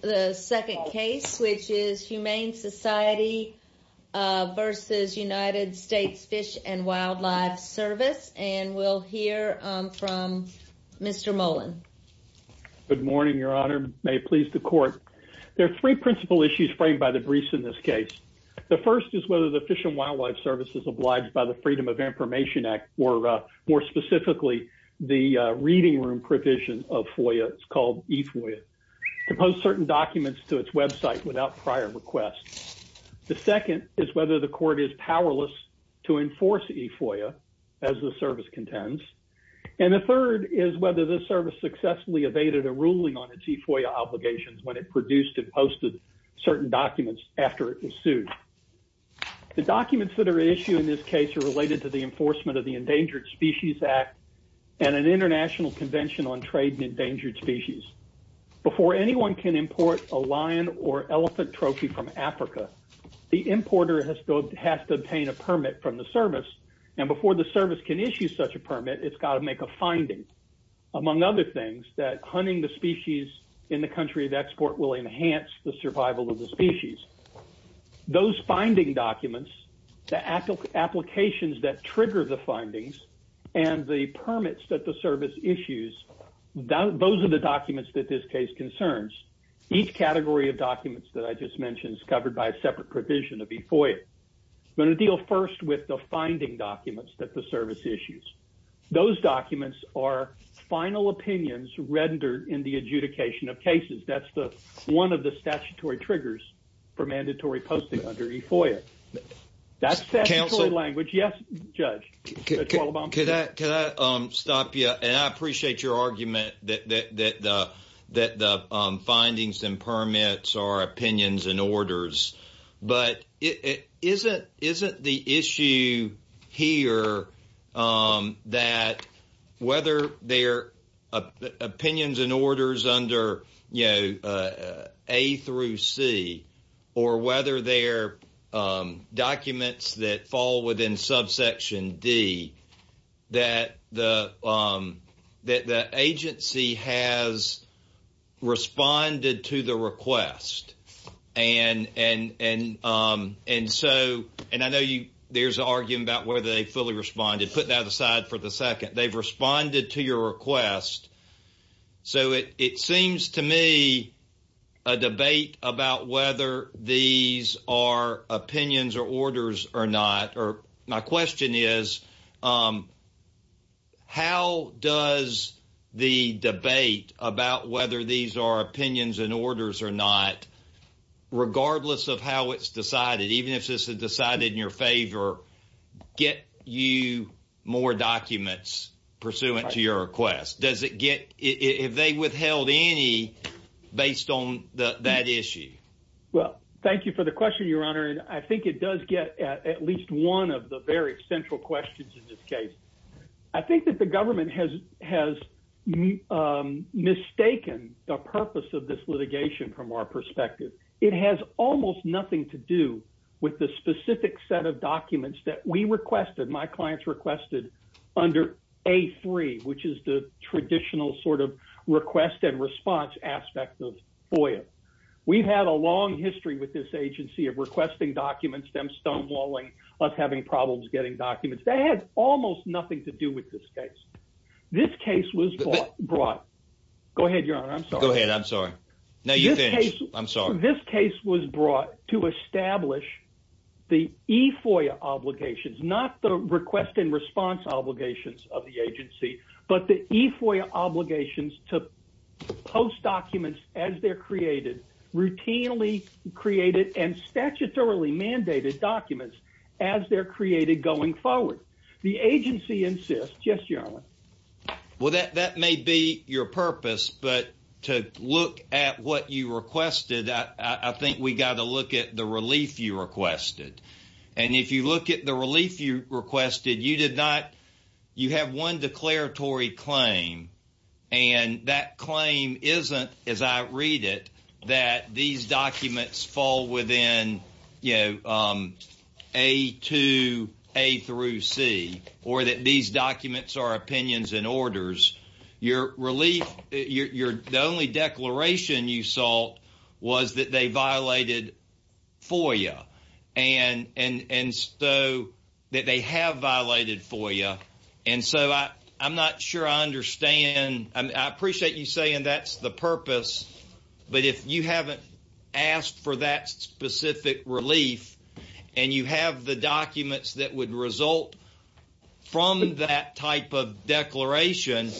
The second case, which is Humane Society versus United States Fish and Wildlife Service, and we'll hear from Mr. Mullen. Good morning, Your Honor. May it please the Court. There are three principal issues framed by the briefs in this case. The first is whether the Fish and Wildlife Service is obliged by the Freedom of Information Act, or more specifically, the reading room provision of FOIA. It's called eFOIA. To post certain documents to its website without prior request. The second is whether the Court is powerless to enforce eFOIA as the service contends. And the third is whether the service successfully evaded a ruling on its eFOIA obligations when it produced and posted certain documents after it was sued. The documents that are at issue in this case are related to the enforcement of the Endangered Species Act and an International Convention on Trade in Endangered Species. Before anyone can import a lion or elephant trophy from Africa, the importer has to obtain a permit from the service. And before the service can issue such a permit, it's got to make a finding. Among other things, that hunting the species in the country of export will enhance the survival of the species. Those finding documents, the applications that trigger the findings, and the permits that the service issues, those are the documents that this case concerns. Each category of documents that I just mentioned is covered by a separate provision of eFOIA. I'm going to deal first with the finding documents that the service issues. Those documents are final opinions rendered in the adjudication of cases. That's one of the statutory triggers for mandatory posting under eFOIA. That's statutory language. Yes, Judge. Can I stop you? And I appreciate your argument that the findings and permits are opinions and orders. But isn't the issue here that whether they're opinions and orders under, you know, A through C, or whether they're documents that fall within subsection D, that the agency has responded to the request and I know there's an argument about whether they fully responded. Put that aside for the second. They've responded to your request. So it seems to me a debate about whether these are opinions or orders or not. Regardless of how it's decided, even if this is decided in your favor, get you more documents pursuant to your request. Does it get – have they withheld any based on that issue? Well, thank you for the question, Your Honor. And I think it does get at least one of the very central questions in this case. I think that the government has mistaken the purpose of this litigation from our perspective. It has almost nothing to do with the specific set of documents that we requested, my clients requested, under A3, which is the traditional sort of request and response aspect of FOIA. We've had a long history with this agency of requesting documents, them stonewalling, us having problems getting documents. That has almost nothing to do with this case. This case was brought – go ahead, Your Honor, I'm sorry. Go ahead, I'm sorry. No, you finish. I'm sorry. This case was brought to establish the e-FOIA obligations, not the request and response obligations of the agency, but the e-FOIA obligations to post documents as they're created, routinely created, and statutorily mandated documents as they're created going forward. The agency insists – yes, Your Honor. Well, that may be your purpose, but to look at what you requested, I think we've got to look at the relief you requested. And if you look at the relief you requested, you did not – you have one declaratory claim, and that claim isn't, as I read it, that these documents fall within, you know, A2, A through C, or that these documents are opinions and orders. Your relief – the only declaration you sought was that they violated FOIA, and so – that they have violated FOIA. And so I'm not sure I understand. I appreciate you saying that's the purpose, but if you haven't asked for that specific relief and you have the documents that would result from that type of declaration,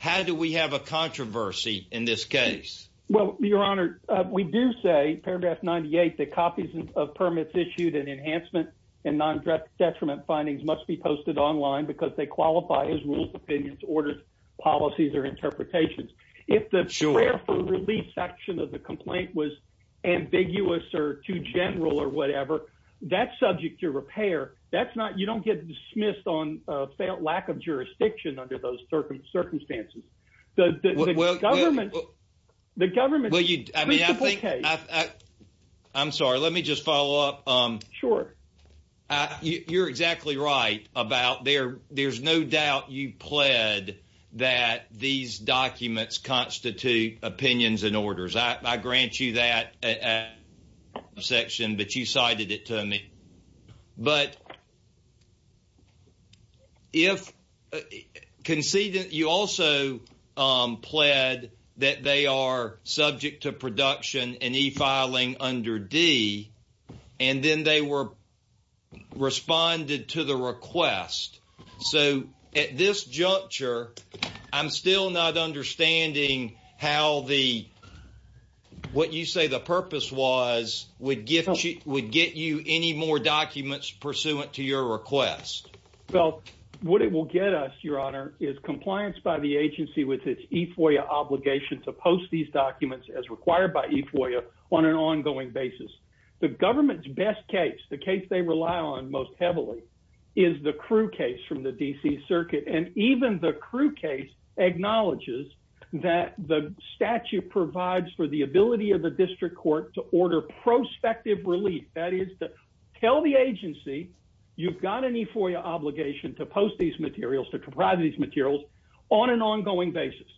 how do we have a controversy in this case? Well, Your Honor, we do say, paragraph 98, that copies of permits issued in enhancement and non-detriment findings must be posted online because they qualify as rules, opinions, orders, policies, or interpretations. If the prayer for relief section of the complaint was ambiguous or too general or whatever, that's subject to repair. That's not – you don't get dismissed on lack of jurisdiction under those circumstances. The government's principle case – I'm sorry. Let me just follow up. Sure. You're exactly right about there's no doubt you pled that these documents constitute opinions and orders. I grant you that section, but you cited it to me. But if – conceded – you also pled that they are subject to production and e-filing under D, and then they were responded to the request. So at this juncture, I'm still not understanding how the – what you say the purpose was would get you any more documents pursuant to your request. Well, what it will get us, Your Honor, is compliance by the agency with its e-FOIA obligation to post these documents as required by e-FOIA on an ongoing basis. The government's best case, the case they rely on most heavily, is the Crewe case from the D.C. Circuit. And even the Crewe case acknowledges that the statute provides for the ability of the district court to order prospective relief. That is to tell the agency you've got an e-FOIA obligation to post these materials, to provide these materials on an ongoing basis.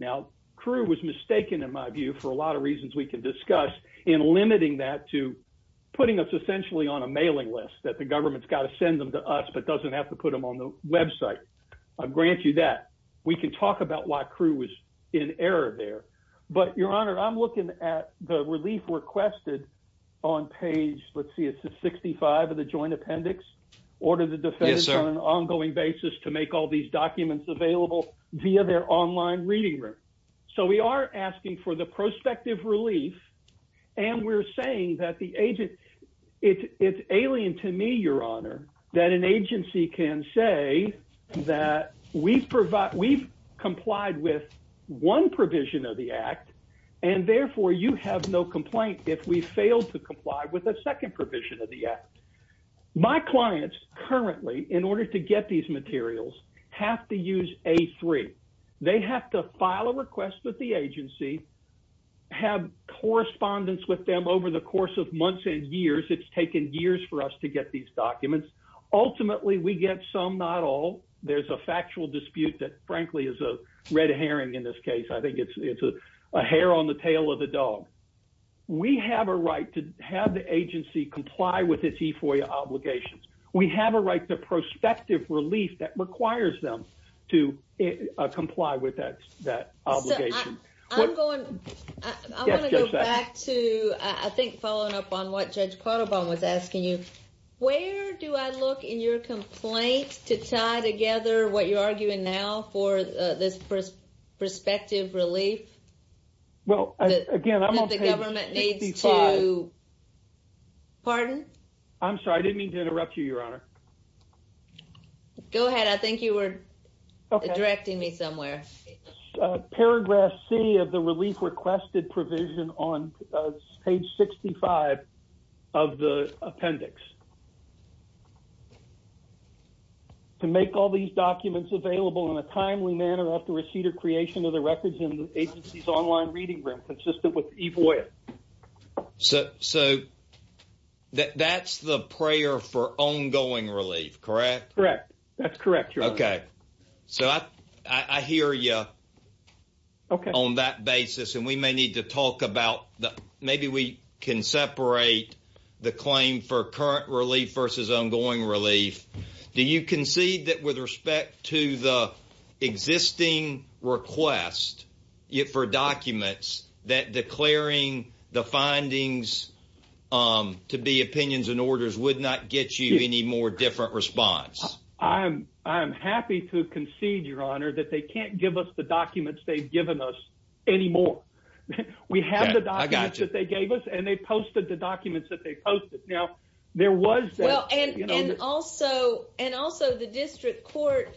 Now, Crewe was mistaken, in my view, for a lot of reasons we can discuss in limiting that to putting us essentially on a mailing list, that the government's got to send them to us but doesn't have to put them on the website. I grant you that. We can talk about why Crewe was in error there. But, Your Honor, I'm looking at the relief requested on page – let's see, it's 65 of the Joint Appendix. Order the defense on an ongoing basis to make all these documents available via their online reading room. So we are asking for the prospective relief, and we're saying that the agency – it's alien to me, Your Honor, that an agency can say that we've complied with one provision of the Act, and therefore you have no complaint if we fail to comply with a second provision of the Act. My clients currently, in order to get these materials, have to use A3. They have to file a request with the agency, have correspondence with them over the course of months and years. It's taken years for us to get these documents. Ultimately, we get some, not all. There's a factual dispute that, frankly, is a red herring in this case. I think it's a hair on the tail of the dog. We have a right to have the agency comply with its E-FOIA obligations. We have a right to prospective relief that requires them to comply with that obligation. So I'm going – I want to go back to, I think, following up on what Judge Quattlebaum was asking you. Where do I look in your complaint to tie together what you're arguing now for this prospective relief? Well, again, I'm on page 65. That the government needs to – pardon? I'm sorry. I didn't mean to interrupt you, Your Honor. Go ahead. I think you were directing me somewhere. Paragraph C of the relief requested provision on page 65 of the appendix. To make all these documents available in a timely manner after receipt or creation of the records in the agency's online reading room consistent with E-FOIA. So that's the prayer for ongoing relief, correct? Correct. That's correct, Your Honor. Okay. So I hear you on that basis. And we may need to talk about – maybe we can separate the claim for current relief versus ongoing relief. Do you concede that with respect to the existing request for documents, that declaring the findings to be opinions and orders would not get you any more different response? I'm happy to concede, Your Honor, that they can't give us the documents they've given us anymore. We have the documents that they gave us, and they posted the documents that they posted. Now, there was – And also the district court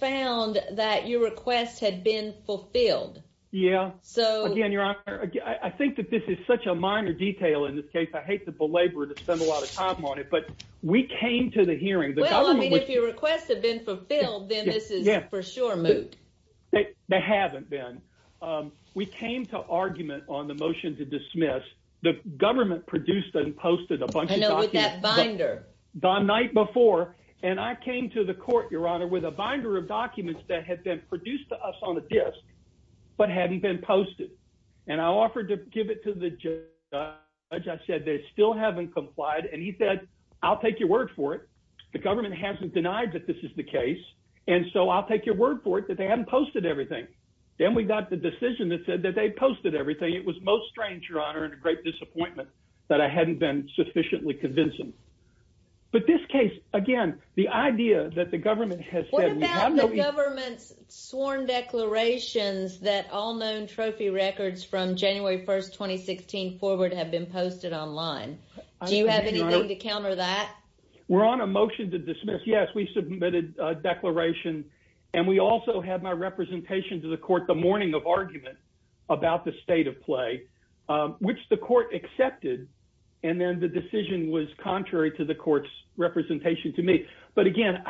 found that your request had been fulfilled. Yeah. So – Again, Your Honor, I think that this is such a minor detail in this case. I hate to belabor it and spend a lot of time on it, but we came to the hearing. Well, I mean, if your request had been fulfilled, then this is for sure moot. They haven't been. We came to argument on the motion to dismiss. The government produced and posted a bunch of documents. I know, with that binder. The night before. And I came to the court, Your Honor, with a binder of documents that had been produced to us on a disk but hadn't been posted. And I offered to give it to the judge. I said they still haven't complied. And he said, I'll take your word for it. The government hasn't denied that this is the case. And so I'll take your word for it that they haven't posted everything. Then we got the decision that said that they posted everything. It was most strange, Your Honor, and a great disappointment that I hadn't been sufficiently convincing. But this case, again, the idea that the government has said – The trophy records from January 1, 2016 forward have been posted online. Do you have anything to counter that? We're on a motion to dismiss, yes. We submitted a declaration. And we also had my representation to the court the morning of argument about the state of play, which the court accepted. And then the decision was contrary to the court's representation to me. But, again,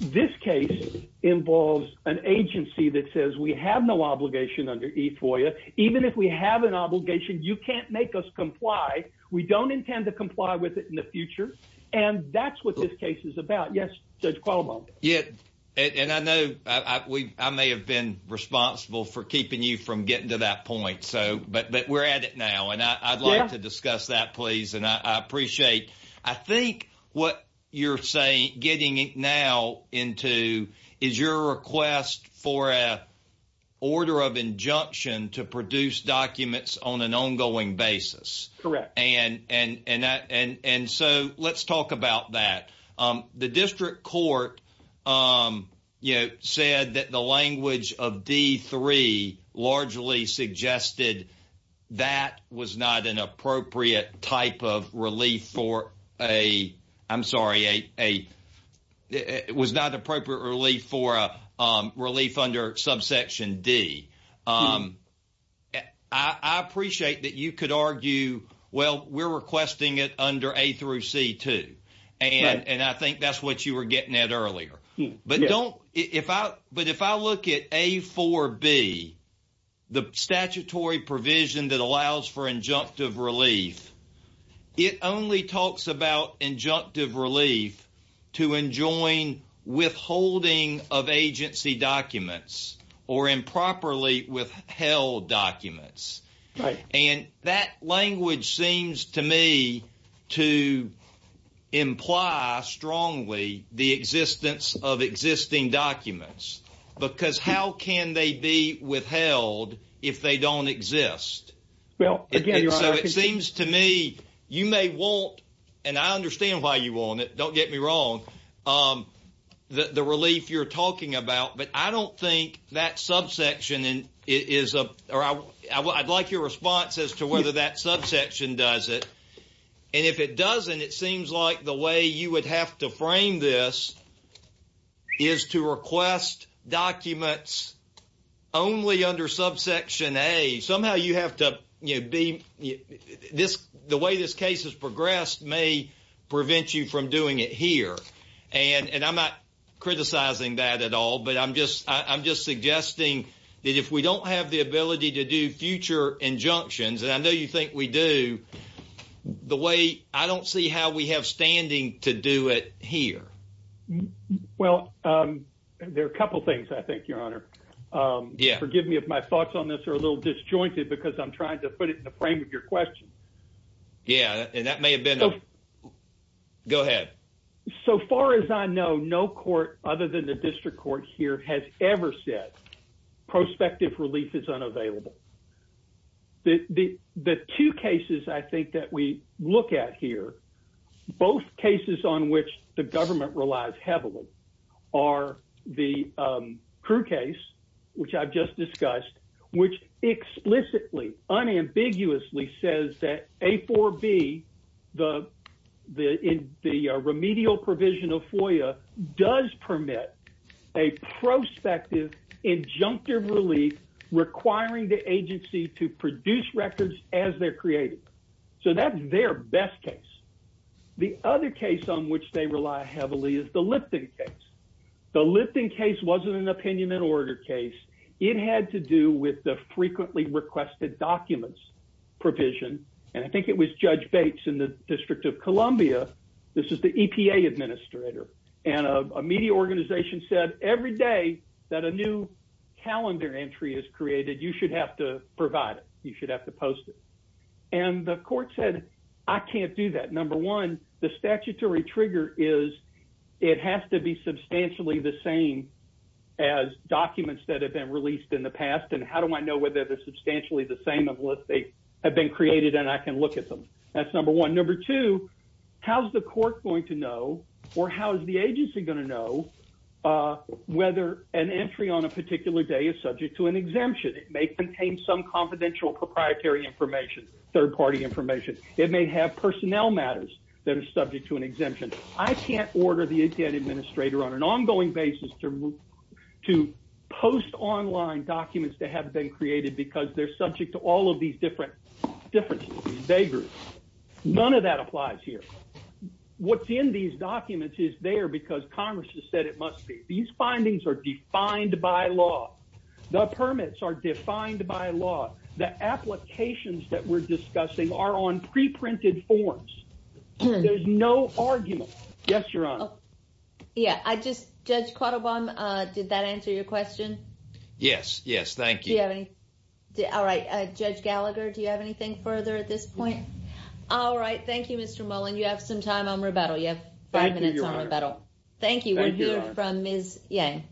this case involves an agency that says we have no obligation under E-FOIA. Even if we have an obligation, you can't make us comply. We don't intend to comply with it in the future. And that's what this case is about. Yes, Judge Cuomo. Yeah, and I know I may have been responsible for keeping you from getting to that point. But we're at it now, and I'd like to discuss that, please, and I appreciate. I think what you're getting now into is your request for an order of injunction to produce documents on an ongoing basis. Correct. And so let's talk about that. The district court, you know, said that the language of D-3 largely suggested that was not an appropriate type of relief for a – I'm sorry, a – it was not appropriate relief for a relief under subsection D. I appreciate that you could argue, well, we're requesting it under A through C-2. Right. And I think that's what you were getting at earlier. But don't – if I – but if I look at A-4-B, the statutory provision that allows for injunctive relief, it only talks about injunctive relief to enjoin withholding of agency documents or improperly withheld documents. Right. And that language seems to me to imply strongly the existence of existing documents, because how can they be withheld if they don't exist? Well, again – So it seems to me you may want – and I understand why you want it, don't get me wrong – the relief you're talking about, but I don't think that subsection is – or I'd like your response as to whether that subsection does it. And if it doesn't, it seems like the way you would have to frame this is to request documents only under subsection A. Somehow you have to be – this – the way this case has progressed may prevent you from doing it here. And I'm not criticizing that at all, but I'm just – I'm just suggesting that if we don't have the ability to do future injunctions – and I know you think we do – the way – I don't see how we have standing to do it here. Well, there are a couple things, I think, Your Honor. Yeah. Forgive me if my thoughts on this are a little disjointed, because I'm trying to put it in the frame of your question. Yeah, and that may have been a – go ahead. So far as I know, no court other than the district court here has ever said prospective relief is unavailable. The two cases, I think, that we look at here, both cases on which the government relies heavily, are the Crew case, which I've just discussed, which explicitly, unambiguously says that A4B, the remedial provision of FOIA, does permit a prospective injunctive relief requiring the A4B. It allows the agency to produce records as they're created. So that's their best case. The other case on which they rely heavily is the Lipton case. The Lipton case wasn't an opinion and order case. It had to do with the frequently requested documents provision, and I think it was Judge Bates in the District of Columbia – this is the EPA administrator – and a media organization said every day that a new calendar entry is created, you should have to provide it, you should have to post it. And the court said, I can't do that. Number one, the statutory trigger is it has to be substantially the same as documents that have been released in the past, and how do I know whether they're substantially the same unless they have been created and I can look at them? That's number one. Number two, how's the court going to know or how is the agency going to know whether an entry on a particular day is subject to an exemption? It may contain some confidential proprietary information, third-party information. It may have personnel matters that are subject to an exemption. I can't order the EPA administrator on an ongoing basis to post online documents that haven't been created because they're subject to all of these differences, these vagaries. None of that applies here. What's in these documents is there because Congress has said it must be. These findings are defined by law. The permits are defined by law. The applications that we're discussing are on pre-printed forms. There's no argument. Yes, Your Honor. Yeah. Judge Quattlebaum, did that answer your question? Yes. Yes. Thank you. All right. Judge Gallagher, do you have anything further at this point? No. All right. Thank you, Mr. Mullen. You have some time on rebuttal. You have five minutes on rebuttal. Thank you, Your Honor. Thank you. We'll hear from Ms. Yang.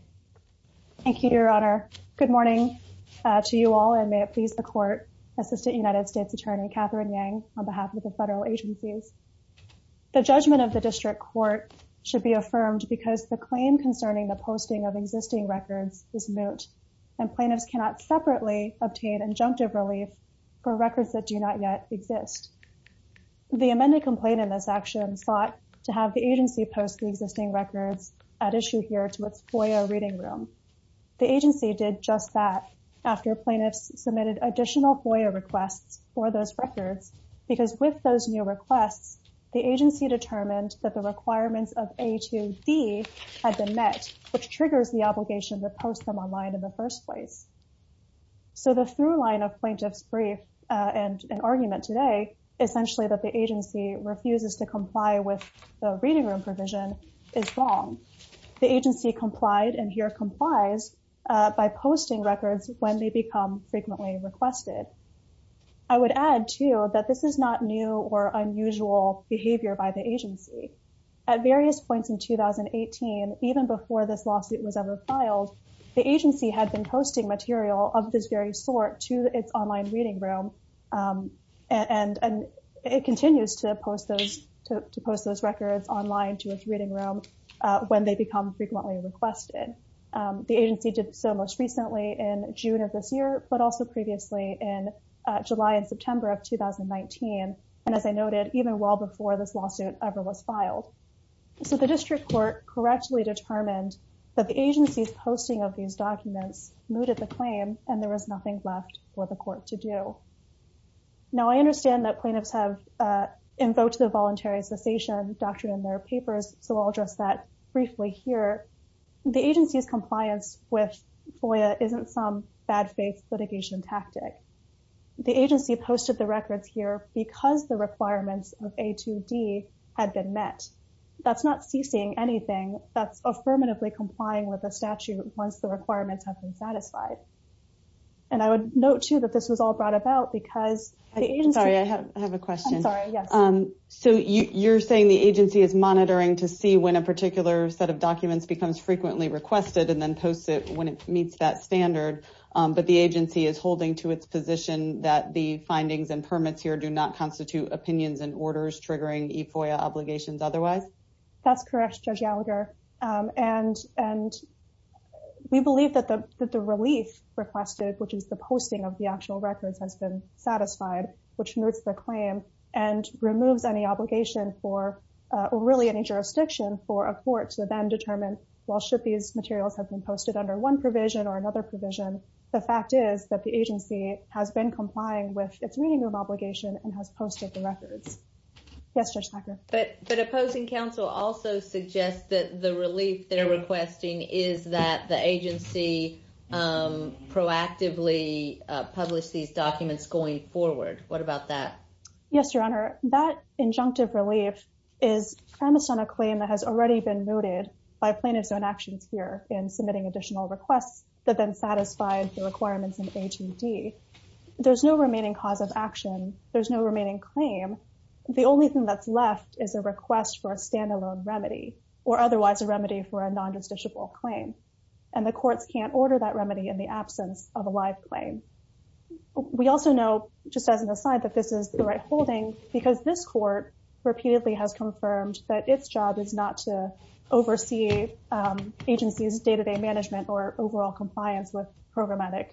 Thank you, Your Honor. Good morning, Your Honor. Good morning to you all, and may it please the Court, Assistant United States Attorney Catherine Yang, on behalf of the federal agencies. The judgment of the district court should be affirmed because the claim concerning the posting of existing records is moot and plaintiffs cannot separately obtain injunctive relief for records that do not yet exist. The amended complaint in this action sought to have the agency post the existing records at issue here to its FOIA reading room. The agency did just that after plaintiffs submitted additional FOIA requests for those records because with those new requests, the agency determined that the requirements of A to D had been met, which triggers the obligation to post them online in the first place. So the throughline of plaintiffs' brief and argument today, essentially that the agency refuses to comply with the reading room provision, is wrong. The agency complied, and here complies, by posting records when they become frequently requested. I would add, too, that this is not new or unusual behavior by the agency. At various points in 2018, even before this lawsuit was ever filed, the agency had been posting material of this very sort to its online reading room, and it continues to post those records online to its reading room when they become frequently requested. The agency did so most recently in June of this year, but also previously in July and September of 2019, and as I noted, even well before this lawsuit ever was filed. So the district court correctly determined that the agency's posting of these documents mooted the claim, and there was nothing left for the court to do. Now, I understand that plaintiffs have invoked the voluntary cessation doctrine in their papers, so I'll address that briefly here. The agency's compliance with FOIA isn't some bad-faith litigation tactic. The agency posted the records here because the requirements of A2D had been met. That's not ceasing anything. That's affirmatively complying with the statute once the requirements have been satisfied. And I would note, too, that this was all brought about because the agency— Sorry, I have a question. I'm sorry, yes. So you're saying the agency is monitoring to see when a particular set of documents becomes frequently requested and then posts it when it meets that standard, but the agency is holding to its position that the findings and permits here do not constitute opinions and orders triggering FOIA obligations otherwise? That's correct, Judge Gallagher. And we believe that the relief requested, which is the posting of the actual records, has been satisfied, which moots the claim and removes any obligation for—or really any jurisdiction for a court to then determine, well, should these materials have been posted under one provision or another provision, the fact is that the agency has been complying with its reading of obligation and has posted the records. Yes, Judge Packard? But opposing counsel also suggests that the relief they're requesting is that the agency proactively published these documents going forward. What about that? Yes, Your Honor. That injunctive relief is premised on a claim that has already been mooted by plaintiffs on actions here in submitting additional requests that then satisfied the requirements in A2D. There's no remaining cause of action. There's no remaining claim. The only thing that's left is a request for a standalone remedy or otherwise a remedy for a non-judiciable claim. And the courts can't order that remedy in the absence of a live claim. We also know, just as an aside, that this is the right holding because this court repeatedly has confirmed that its job is not to oversee agencies' day-to-day management or overall compliance with programmatic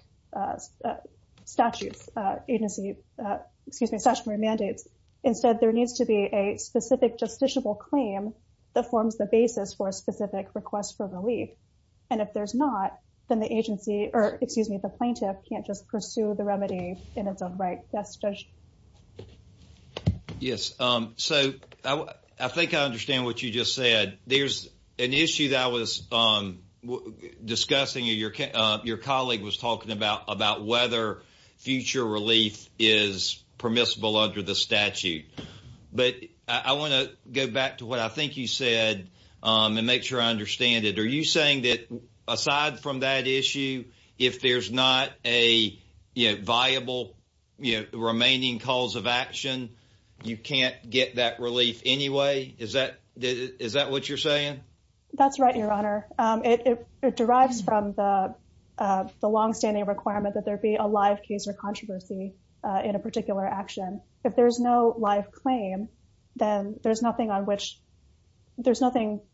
statutes, agency, excuse me, statutory mandates. Instead, there needs to be a specific justiciable claim that forms the basis for a specific request for relief. And if there's not, then the agency, or excuse me, the plaintiff can't just pursue the remedy in its own right. Yes, Judge? Yes. So, I think I understand what you just said. There's an issue that I was discussing. Your colleague was talking about whether future relief is permissible under the statute. But I want to go back to what I think you said and make sure I understand it. Are you saying that aside from that issue, if there's not a viable remaining cause of action, you can't get that relief anyway? Is that what you're saying? That's right, Your Honor. It derives from the longstanding requirement that there be a live case or controversy in a particular action. If there's no live claim, then there's nothing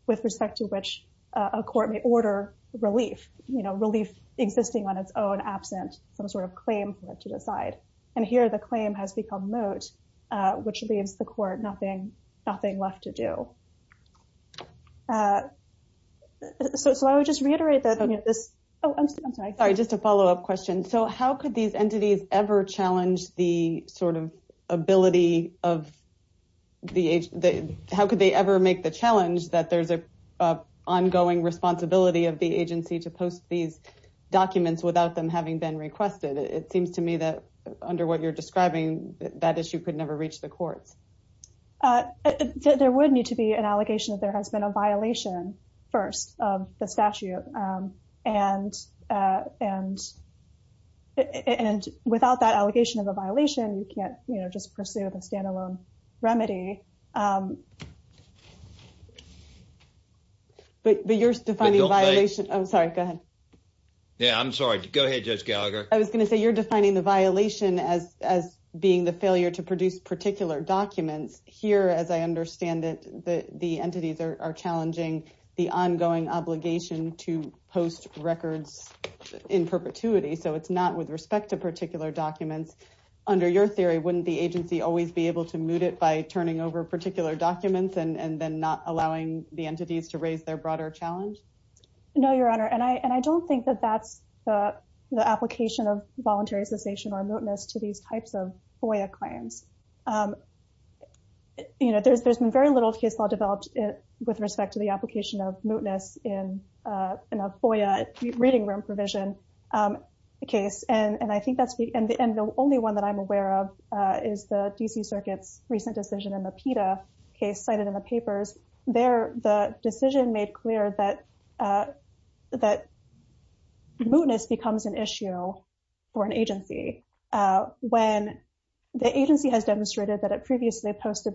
with respect to which a court may order relief, you know, relief existing on its own absent some sort of claim for it to decide. And here, the claim has become moot, which leaves the court nothing left to do. So, I would just reiterate that this... Oh, I'm sorry. Sorry, just a follow-up question. So, how could these entities ever challenge the sort of ability of the... How could they ever make the challenge that there's an ongoing responsibility of the agency to post these documents without them having been requested? It seems to me that under what you're describing, that issue could never reach the courts. There would need to be an allegation that there has been a violation first of the statute. And without that allegation of a violation, you can't, you know, just pursue the standalone remedy. But you're defining violation... I'm sorry, go ahead. Yeah, I'm sorry. Go ahead, Judge Gallagher. I was going to say, you're defining the violation as being the failure to produce particular documents. Here, as I understand it, the entities are challenging the ongoing obligation to post records in perpetuity. So, it's not with respect to particular documents. Under your theory, wouldn't the agency always be able to moot it by turning over particular documents and then not allowing the entities to raise their broader challenge? No, Your Honor. And I don't think that that's the application of voluntary cessation or mootness to these types of FOIA claims. You know, there's been very little case law developed with respect to the application of mootness in a FOIA reading room provision case. And I think that's the... And the only one that I'm aware of is the D.C. Circuit's recent decision in the PETA case cited in the papers. There, the decision made clear that mootness becomes an issue for an agency when the agency has demonstrated that it previously posted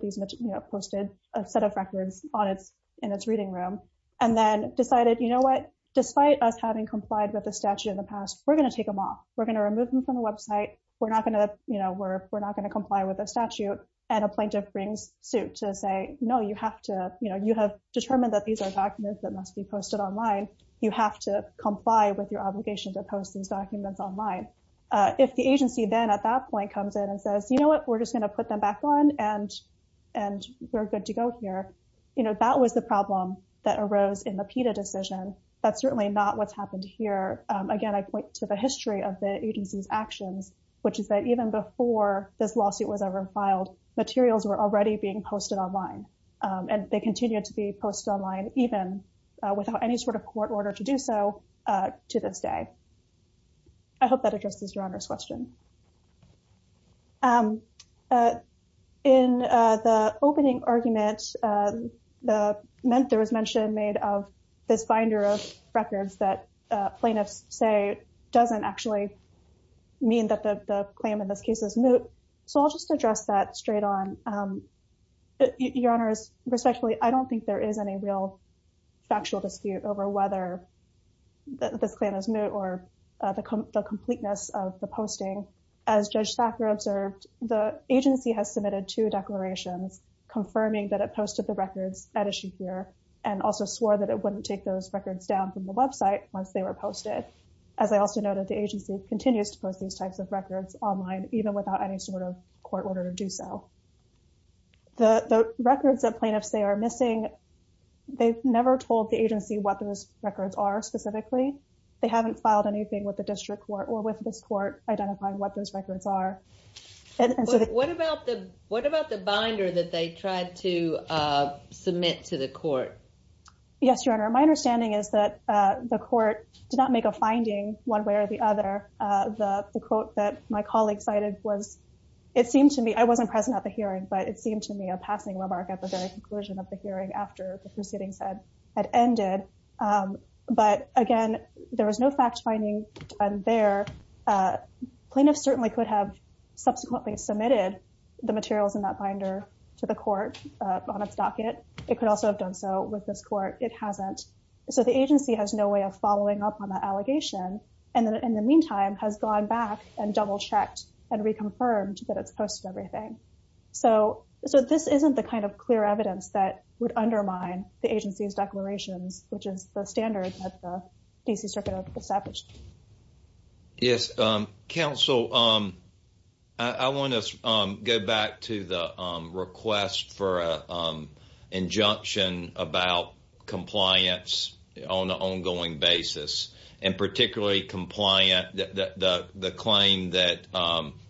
a set of records in its reading room and then decided, you know what, despite us having complied with the statute in the past, we're going to take them off. We're going to remove them from the website. We're not going to comply with the statute. And a plaintiff brings suit to say, no, you have to, you know, you have determined that these are documents that must be posted online. You have to comply with your obligation to post these documents online. If the agency then at that point comes in and says, you know what, we're just going to put them back on and we're good to go here, you know, that was the problem that arose in the PETA decision. That's certainly not what's happened here. Again, I point to the history of the agency's actions, which is that even before this lawsuit was ever filed, materials were already being posted online and they continue to be posted online even without any sort of court order to do so to this day. I hope that addresses Your Honor's question. In the opening argument, there was mention made of this binder of records that plaintiffs say it doesn't actually mean that the claim in this case is moot. So I'll just address that straight on. Your Honor, respectfully, I don't think there is any real factual dispute over whether this claim is moot or the completeness of the posting. As Judge Thacker observed, the agency has submitted two declarations confirming that it posted the records at issue here and also swore that it wouldn't take those records down from the website once they were posted. As I also noted, the agency continues to post these types of records online even without any sort of court order to do so. The records that plaintiffs say are missing, they've never told the agency what those records are specifically. They haven't filed anything with the district court or with this court identifying what those records are. What about the binder that they tried to submit to the court? Yes, Your Honor. My understanding is that the court did not make a finding one way or the other. The quote that my colleague cited was, it seemed to me, I wasn't present at the hearing, but it seemed to me a passing remark at the very conclusion of the hearing after the proceedings had ended. But again, there was no fact-finding done there. Plaintiffs certainly could have subsequently submitted the materials in that binder to the court on its docket. It could also have done so with this court. It hasn't. So the agency has no way of following up on that allegation and, in the meantime, has gone back and double-checked and reconfirmed that it's posted everything. So this isn't the kind of clear evidence that would undermine the agency's declarations, which is the standard at the D.C. Circuit of Appellate. Yes. Counsel, I want to go back to the request for an injunction about compliance on an ongoing basis and particularly the claim that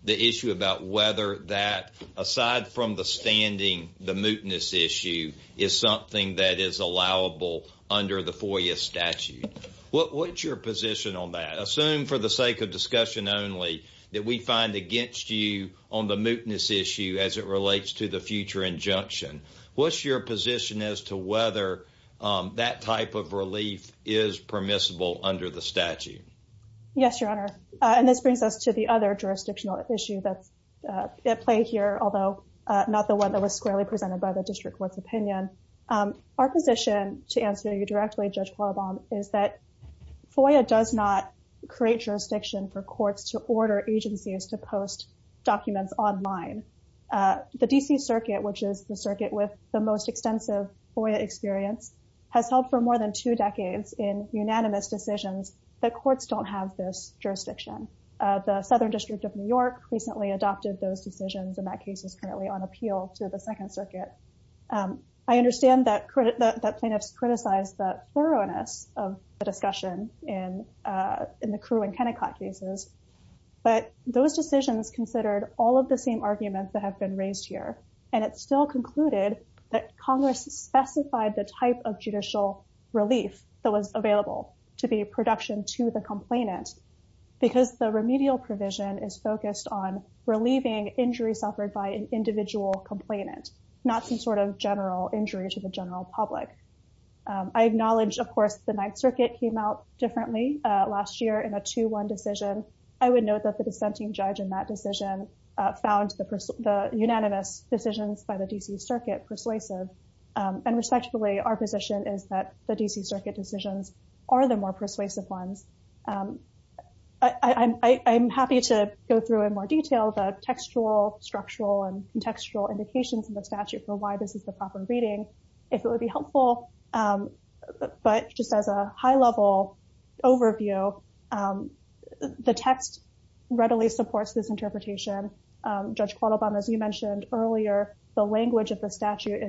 the issue about whether that, aside from the standing, the mootness issue, is something that is allowable under the FOIA statute. What's your position on that? Assume, for the sake of discussion only, that we find against you on the mootness issue as it relates to the future injunction. What's your position as to whether that type of relief is permissible under the statute? Yes, Your Honor. And this brings us to the other jurisdictional issue at play here, although not the one that was squarely presented by the district court's opinion. Our position, to answer you directly, Judge Qualabong, is that FOIA does not create jurisdiction for courts to order agencies to post documents online. The D.C. Circuit, which is the circuit with the most extensive FOIA experience, has held for more than two decades in unanimous decisions that courts don't have this jurisdiction. The Southern District of New York recently adopted those decisions, and that case is currently on appeal to the Second Circuit. I understand that plaintiffs criticized the thoroughness of the discussion in the Crew and Kennicott cases, but those decisions considered all of the same arguments that have been raised here, and it's still concluded that Congress specified the type of judicial relief that was available to be a production to the complainant because the remedial provision is focused on relieving injury suffered by an individual complainant, not some sort of general injury to the general public. I acknowledge, of course, the Ninth Circuit came out differently last year in a 2-1 decision. I would note that the dissenting judge in that decision found the unanimous decisions by the D.C. Circuit persuasive, and respectfully, our position is that the D.C. Circuit decisions are the more persuasive ones. I'm happy to go through in more detail the textual, structural, and contextual indications in the statute for why this is the proper reading, if it would be helpful, but just as a high-level overview, the text readily supports this interpretation. Judge Quattlebaum, as you mentioned earlier, the language of the statute,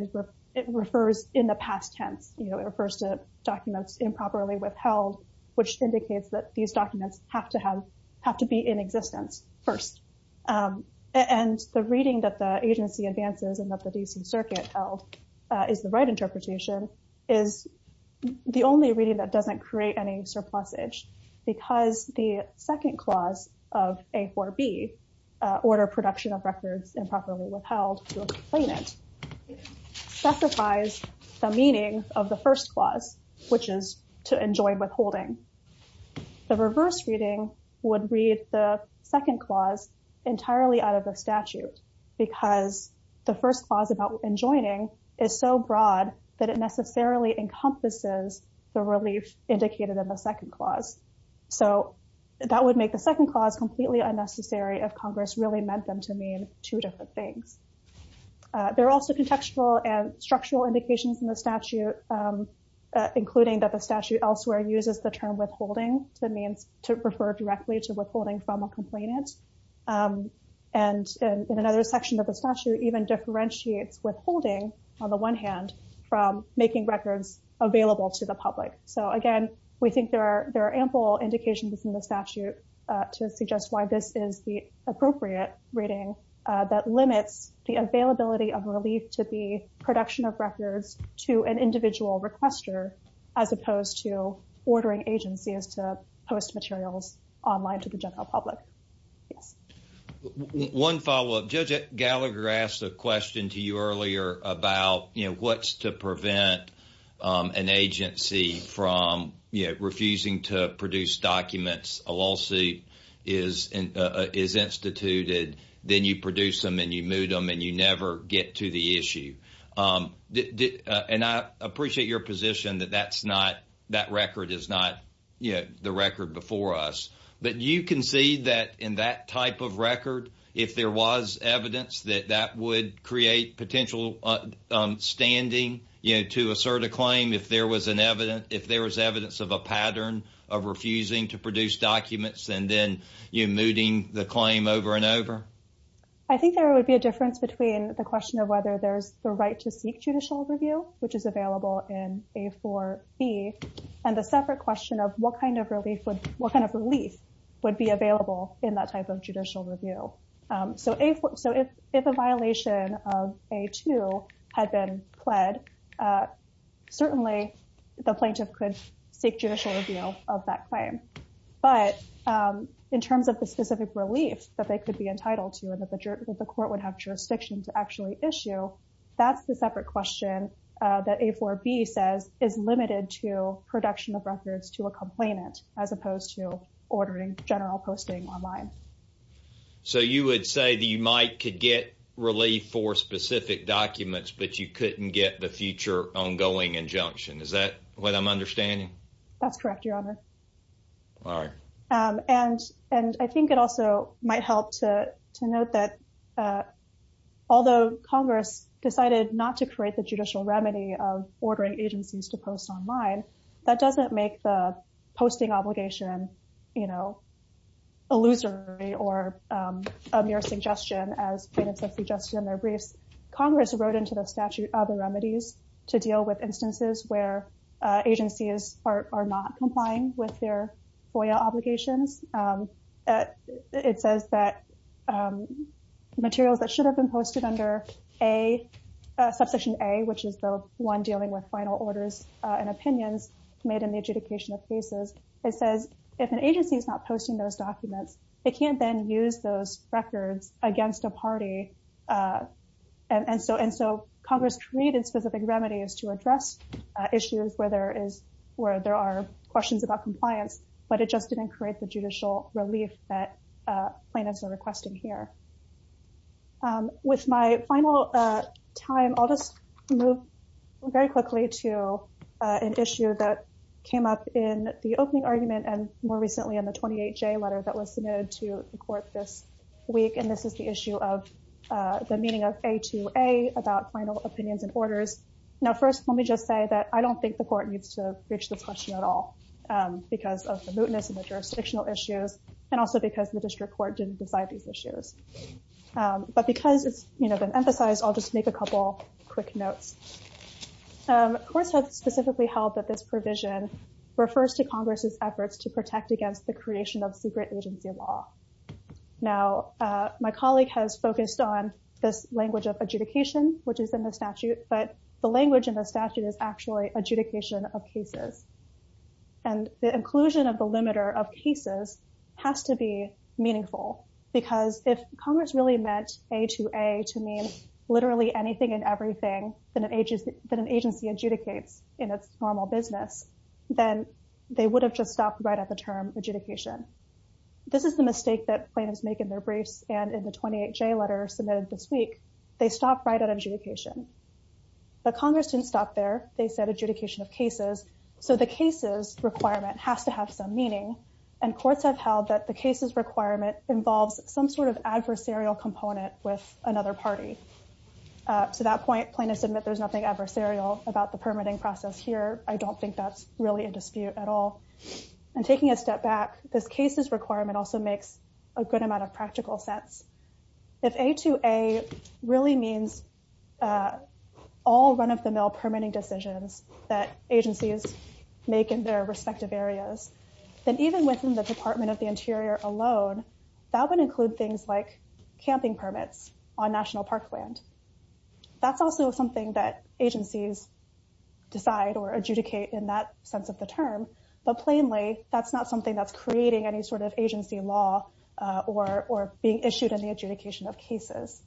it refers in the past tense. It refers to documents improperly withheld, which indicates that these documents have to be in existence first, and the reading that the agency advances and that the D.C. Circuit held is the right interpretation is the only reading that doesn't create any surplusage because the second clause of A.4.B., Order Production of Records Improperly Withheld, to explain it, specifies the meaning of the first clause, which is to enjoin withholding. The reverse reading would read the second clause entirely out of the statute because the first clause about enjoining is so broad that it necessarily encompasses the relief indicated in the second clause. So that would make the second clause completely unnecessary if Congress really meant them to mean two different things. There are also contextual and structural indications in the statute, including that the statute elsewhere uses the term withholding to refer directly to withholding from a complainant. And in another section of the statute, even differentiates withholding on the one hand from making records available to the public. So again, we think there are ample indications in the statute to suggest why this is the appropriate reading that limits the availability of relief to the production of records to an individual requester, as opposed to ordering agencies to post materials online to the general public. One follow-up. Judge Gallagher asked a question to you earlier about what's to prevent an agency from refusing to produce documents. A lawsuit is instituted, then you produce them and you move them and you never get to the issue. And I appreciate your position that that's not that record is not the record before us. But you can see that in that type of record, if there was evidence that that would create potential standing to assert a claim, if there was an evidence, if there was evidence of a pattern of refusing to produce documents and then you moving the claim over and over. I think there would be a difference between the question of whether there's the right to seek judicial review, which is available in A4B, and the separate question of what kind of relief would be available in that type of judicial review. So if a violation of A2 had been pled, certainly the plaintiff could seek judicial review of that claim. But in terms of the specific relief that they could be entitled to and that the court would have jurisdiction to actually issue, that's the separate question that A4B says is limited to production of records to a complainant as opposed to ordering general posting online. So you would say that you might could get relief for specific documents, but you couldn't get the future ongoing injunction. Is that what I'm understanding? That's correct, Your Honor. All right. And I think it also might help to note that although Congress decided not to create the judicial remedy of ordering agencies to post online, that doesn't make the posting obligation, you know, illusory or a mere suggestion as plaintiffs have suggested in their briefs. Congress wrote into the statute other remedies to deal with instances where agencies are not complying with their FOIA obligations. It says that materials that should have been posted under a Subsection A, which is the one dealing with final orders and opinions made in the adjudication of cases, it says if an agency is not posting those documents, it can't then use those records against a party. And so Congress created specific remedies to address issues where there are questions about compliance, but it just didn't create the judicial relief that plaintiffs are requesting here. With my final time, I'll just move very quickly to an issue that came up in the opening argument and more recently in the 28-J letter that was submitted to the court this week. And this is the issue of the meeting of A2A about final opinions and orders. Now, first, let me just say that I don't think the court needs to reach this question at all because of the mootness and the jurisdictional issues, and also because the district court didn't decide these issues. But because it's been emphasized, I'll just make a couple quick notes. The court has specifically held that this provision refers to Congress's efforts to protect against the creation of secret agency law. Now, my colleague has focused on this language of adjudication, which is in the statute, but the language in the statute is actually adjudication of cases. And the inclusion of the limiter of cases has to be meaningful because if Congress really meant A2A to mean literally anything and everything that an agency adjudicates in its normal business, then they would have just stopped right at the term adjudication. This is the mistake that plaintiffs make in their briefs and in the 28-J letter submitted this week. They stop right at adjudication. But Congress didn't stop there. They said adjudication of cases. So the cases requirement has to have some meaning, and courts have held that the cases requirement involves some sort of adversarial component with another party. To that point, plaintiffs admit there's nothing adversarial about the permitting process here. I don't think that's really a dispute at all. And taking a step back, this cases requirement also makes a good amount of practical sense. If A2A really means all run-of-the-mill permitting decisions that agencies make in their respective areas, then even within the Department of the Interior alone, that would include things like camping permits on national parkland. That's also something that agencies decide or adjudicate in that sense of the term. But plainly, that's not something that's creating any sort of agency law or being issued in the adjudication of cases.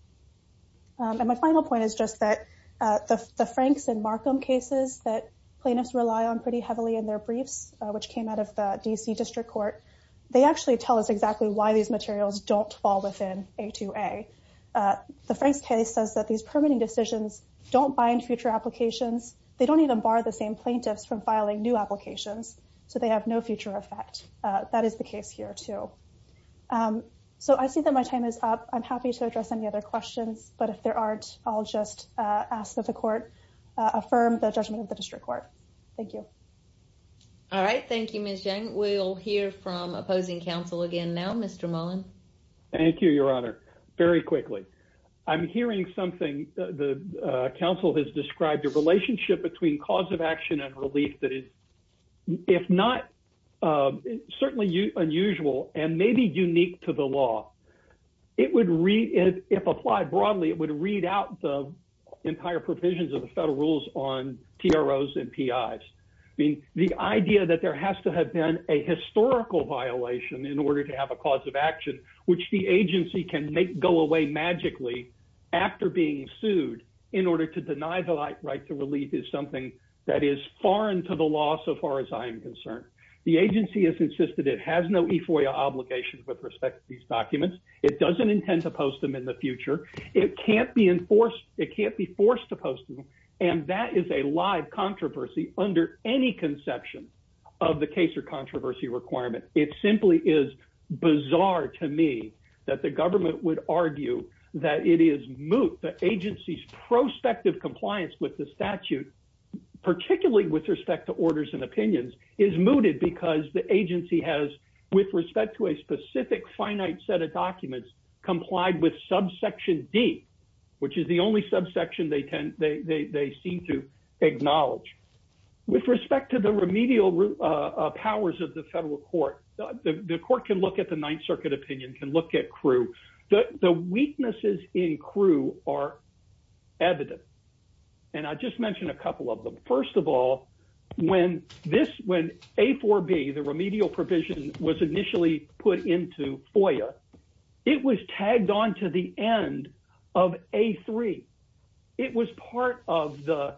And my final point is just that the Franks and Markham cases that plaintiffs rely on pretty heavily in their briefs, which came out of the D.C. District Court, they actually tell us exactly why these materials don't fall within A2A. The Franks case says that these permitting decisions don't bind future applications. They don't even bar the same plaintiffs from filing new applications. So they have no future effect. That is the case here, too. So I see that my time is up. I'm happy to address any other questions. But if there aren't, I'll just ask that the Court affirm the judgment of the District Court. Thank you. All right. Thank you, Ms. Yang. We'll hear from opposing counsel again now, Mr. Mullen. Thank you, Your Honor. Very quickly. I'm hearing something. The counsel has described a relationship between cause of action and relief that is, if not certainly unusual and maybe unique to the law. If applied broadly, it would read out the entire provisions of the federal rules on TROs and PIs. The idea that there has to have been a historical violation in order to have a cause of action, which the agency can go away magically after being sued in order to deny the right to relief is something that is foreign to the law so far as I am concerned. The agency has insisted it has no EFOIA obligations with respect to these documents. It doesn't intend to post them in the future. It can't be enforced. It can't be forced to post them. And that is a live controversy under any conception of the case or controversy requirement. It simply is bizarre to me that the government would argue that it is moot. The agency's prospective compliance with the statute, particularly with respect to orders and opinions, is mooted because the agency has, with respect to a specific finite set of documents, complied with subsection D, which is the only subsection they seem to acknowledge. With respect to the remedial powers of the federal court, the court can look at the Ninth Circuit opinion, can look at CRU. The weaknesses in CRU are evident. And I'll just mention a couple of them. First of all, when this, when A4B, the remedial provision, was initially put into FOIA, it was tagged on to the end of A3. It was part of the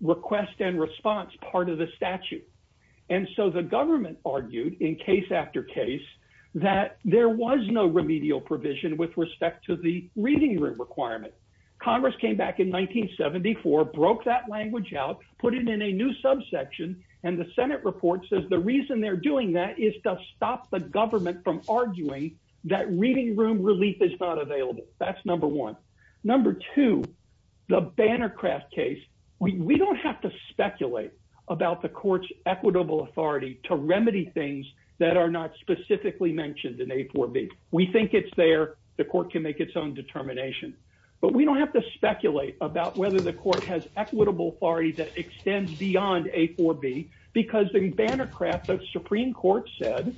request and response part of the statute. And so the government argued in case after case that there was no remedial provision with respect to the reading requirement. Congress came back in 1974, broke that language out, put it in a new subsection, and the Senate report says the reason they're doing that is to stop the government from arguing that reading room relief is not available. That's number one. Number two, the Bannercraft case, we don't have to speculate about the court's equitable authority to remedy things that are not specifically mentioned in A4B. We think it's there. The court can make its own determination. But we don't have to speculate about whether the court has equitable authority that extends beyond A4B because in Bannercraft, the Supreme Court said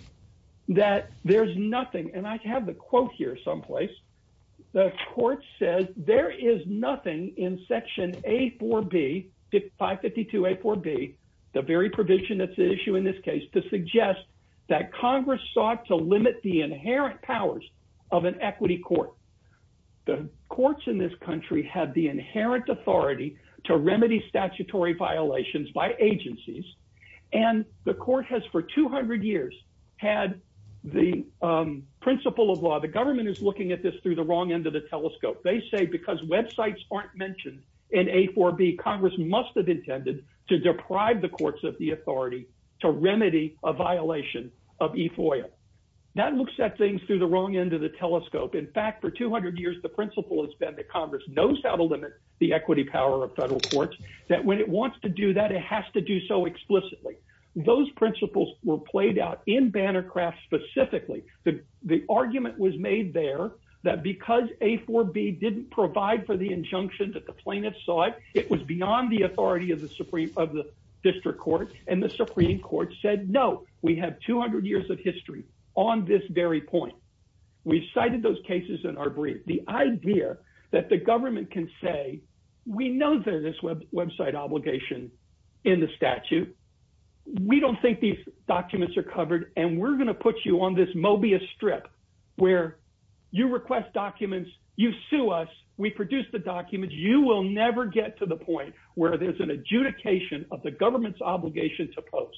that there's nothing, and I have the quote here someplace. The court says there is nothing in Section A4B, 552A4B, the very provision that's at issue in this case, to suggest that Congress sought to limit the inherent powers of an equity court. The courts in this country have the inherent authority to remedy statutory violations by agencies, and the court has for 200 years had the principle of law. The government is looking at this through the wrong end of the telescope. They say because websites aren't mentioned in A4B, Congress must have intended to deprive the courts of the authority to remedy a violation of EFOIA. That looks at things through the wrong end of the telescope. In fact, for 200 years, the principle has been that Congress knows how to limit the equity power of federal courts, that when it wants to do that, it has to do so explicitly. Those principles were played out in Bannercraft specifically. The argument was made there that because A4B didn't provide for the injunction that the plaintiffs sought, it was beyond the authority of the district court, and the Supreme Court said, no, we have 200 years of history on this very point. We've cited those cases in our brief. The idea that the government can say, we know there's this website obligation in the statute. We don't think these documents are covered, and we're going to put you on this Mobius strip where you request documents, you sue us, we produce the documents. You will never get to the point where there's an adjudication of the government's obligation to post.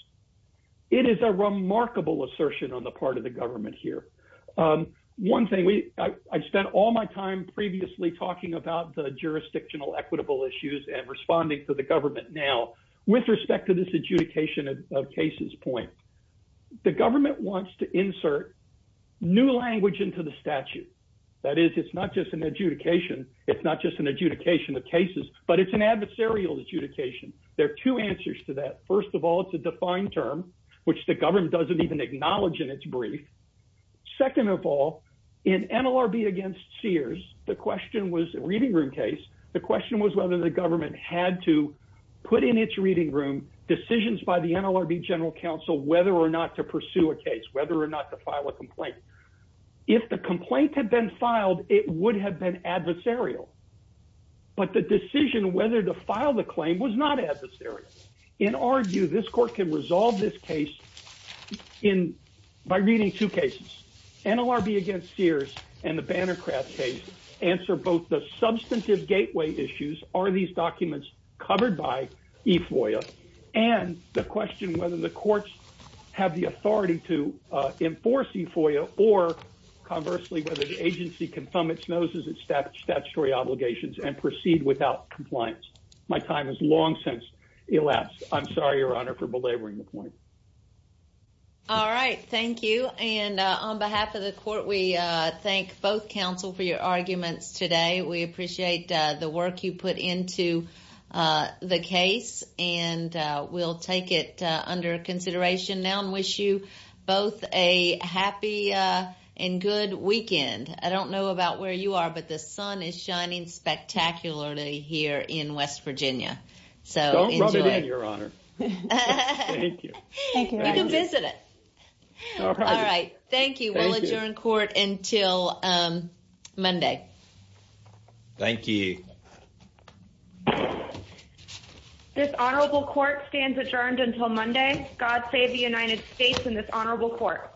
It is a remarkable assertion on the part of the government here. One thing, I spent all my time previously talking about the jurisdictional equitable issues and responding to the government now. With respect to this adjudication of cases point, the government wants to insert new language into the statute. That is, it's not just an adjudication, it's not just an adjudication of cases, but it's an adversarial adjudication. There are two answers to that. First of all, it's a defined term, which the government doesn't even acknowledge in its brief. Second of all, in NLRB against Sears, the question was a reading room case. The question was whether the government had to put in its reading room decisions by the NLRB general counsel whether or not to pursue a case, whether or not to file a complaint. If the complaint had been filed, it would have been adversarial. But the decision whether to file the claim was not adversarial. In our view, this court can resolve this case by reading two cases. NLRB against Sears and the Bannercraft case answer both the substantive gateway issues, are these documents covered by E-FOIA, and the question whether the courts have the authority to enforce E-FOIA, or conversely, whether the agency can thumb its noses at statutory obligations and proceed without compliance. My time has long since elapsed. I'm sorry, Your Honor, for belaboring the point. All right, thank you. And on behalf of the court, we thank both counsel for your arguments today. We appreciate the work you put into the case, and we'll take it under consideration now and wish you both a happy and good weekend. I don't know about where you are, but the sun is shining spectacularly here in West Virginia. So enjoy. Don't rub it in, Your Honor. Thank you. Thank you. You can visit it. All right. Thank you. We will adjourn court until Monday. Thank you. This honorable court stands adjourned until Monday. God save the United States and this honorable court.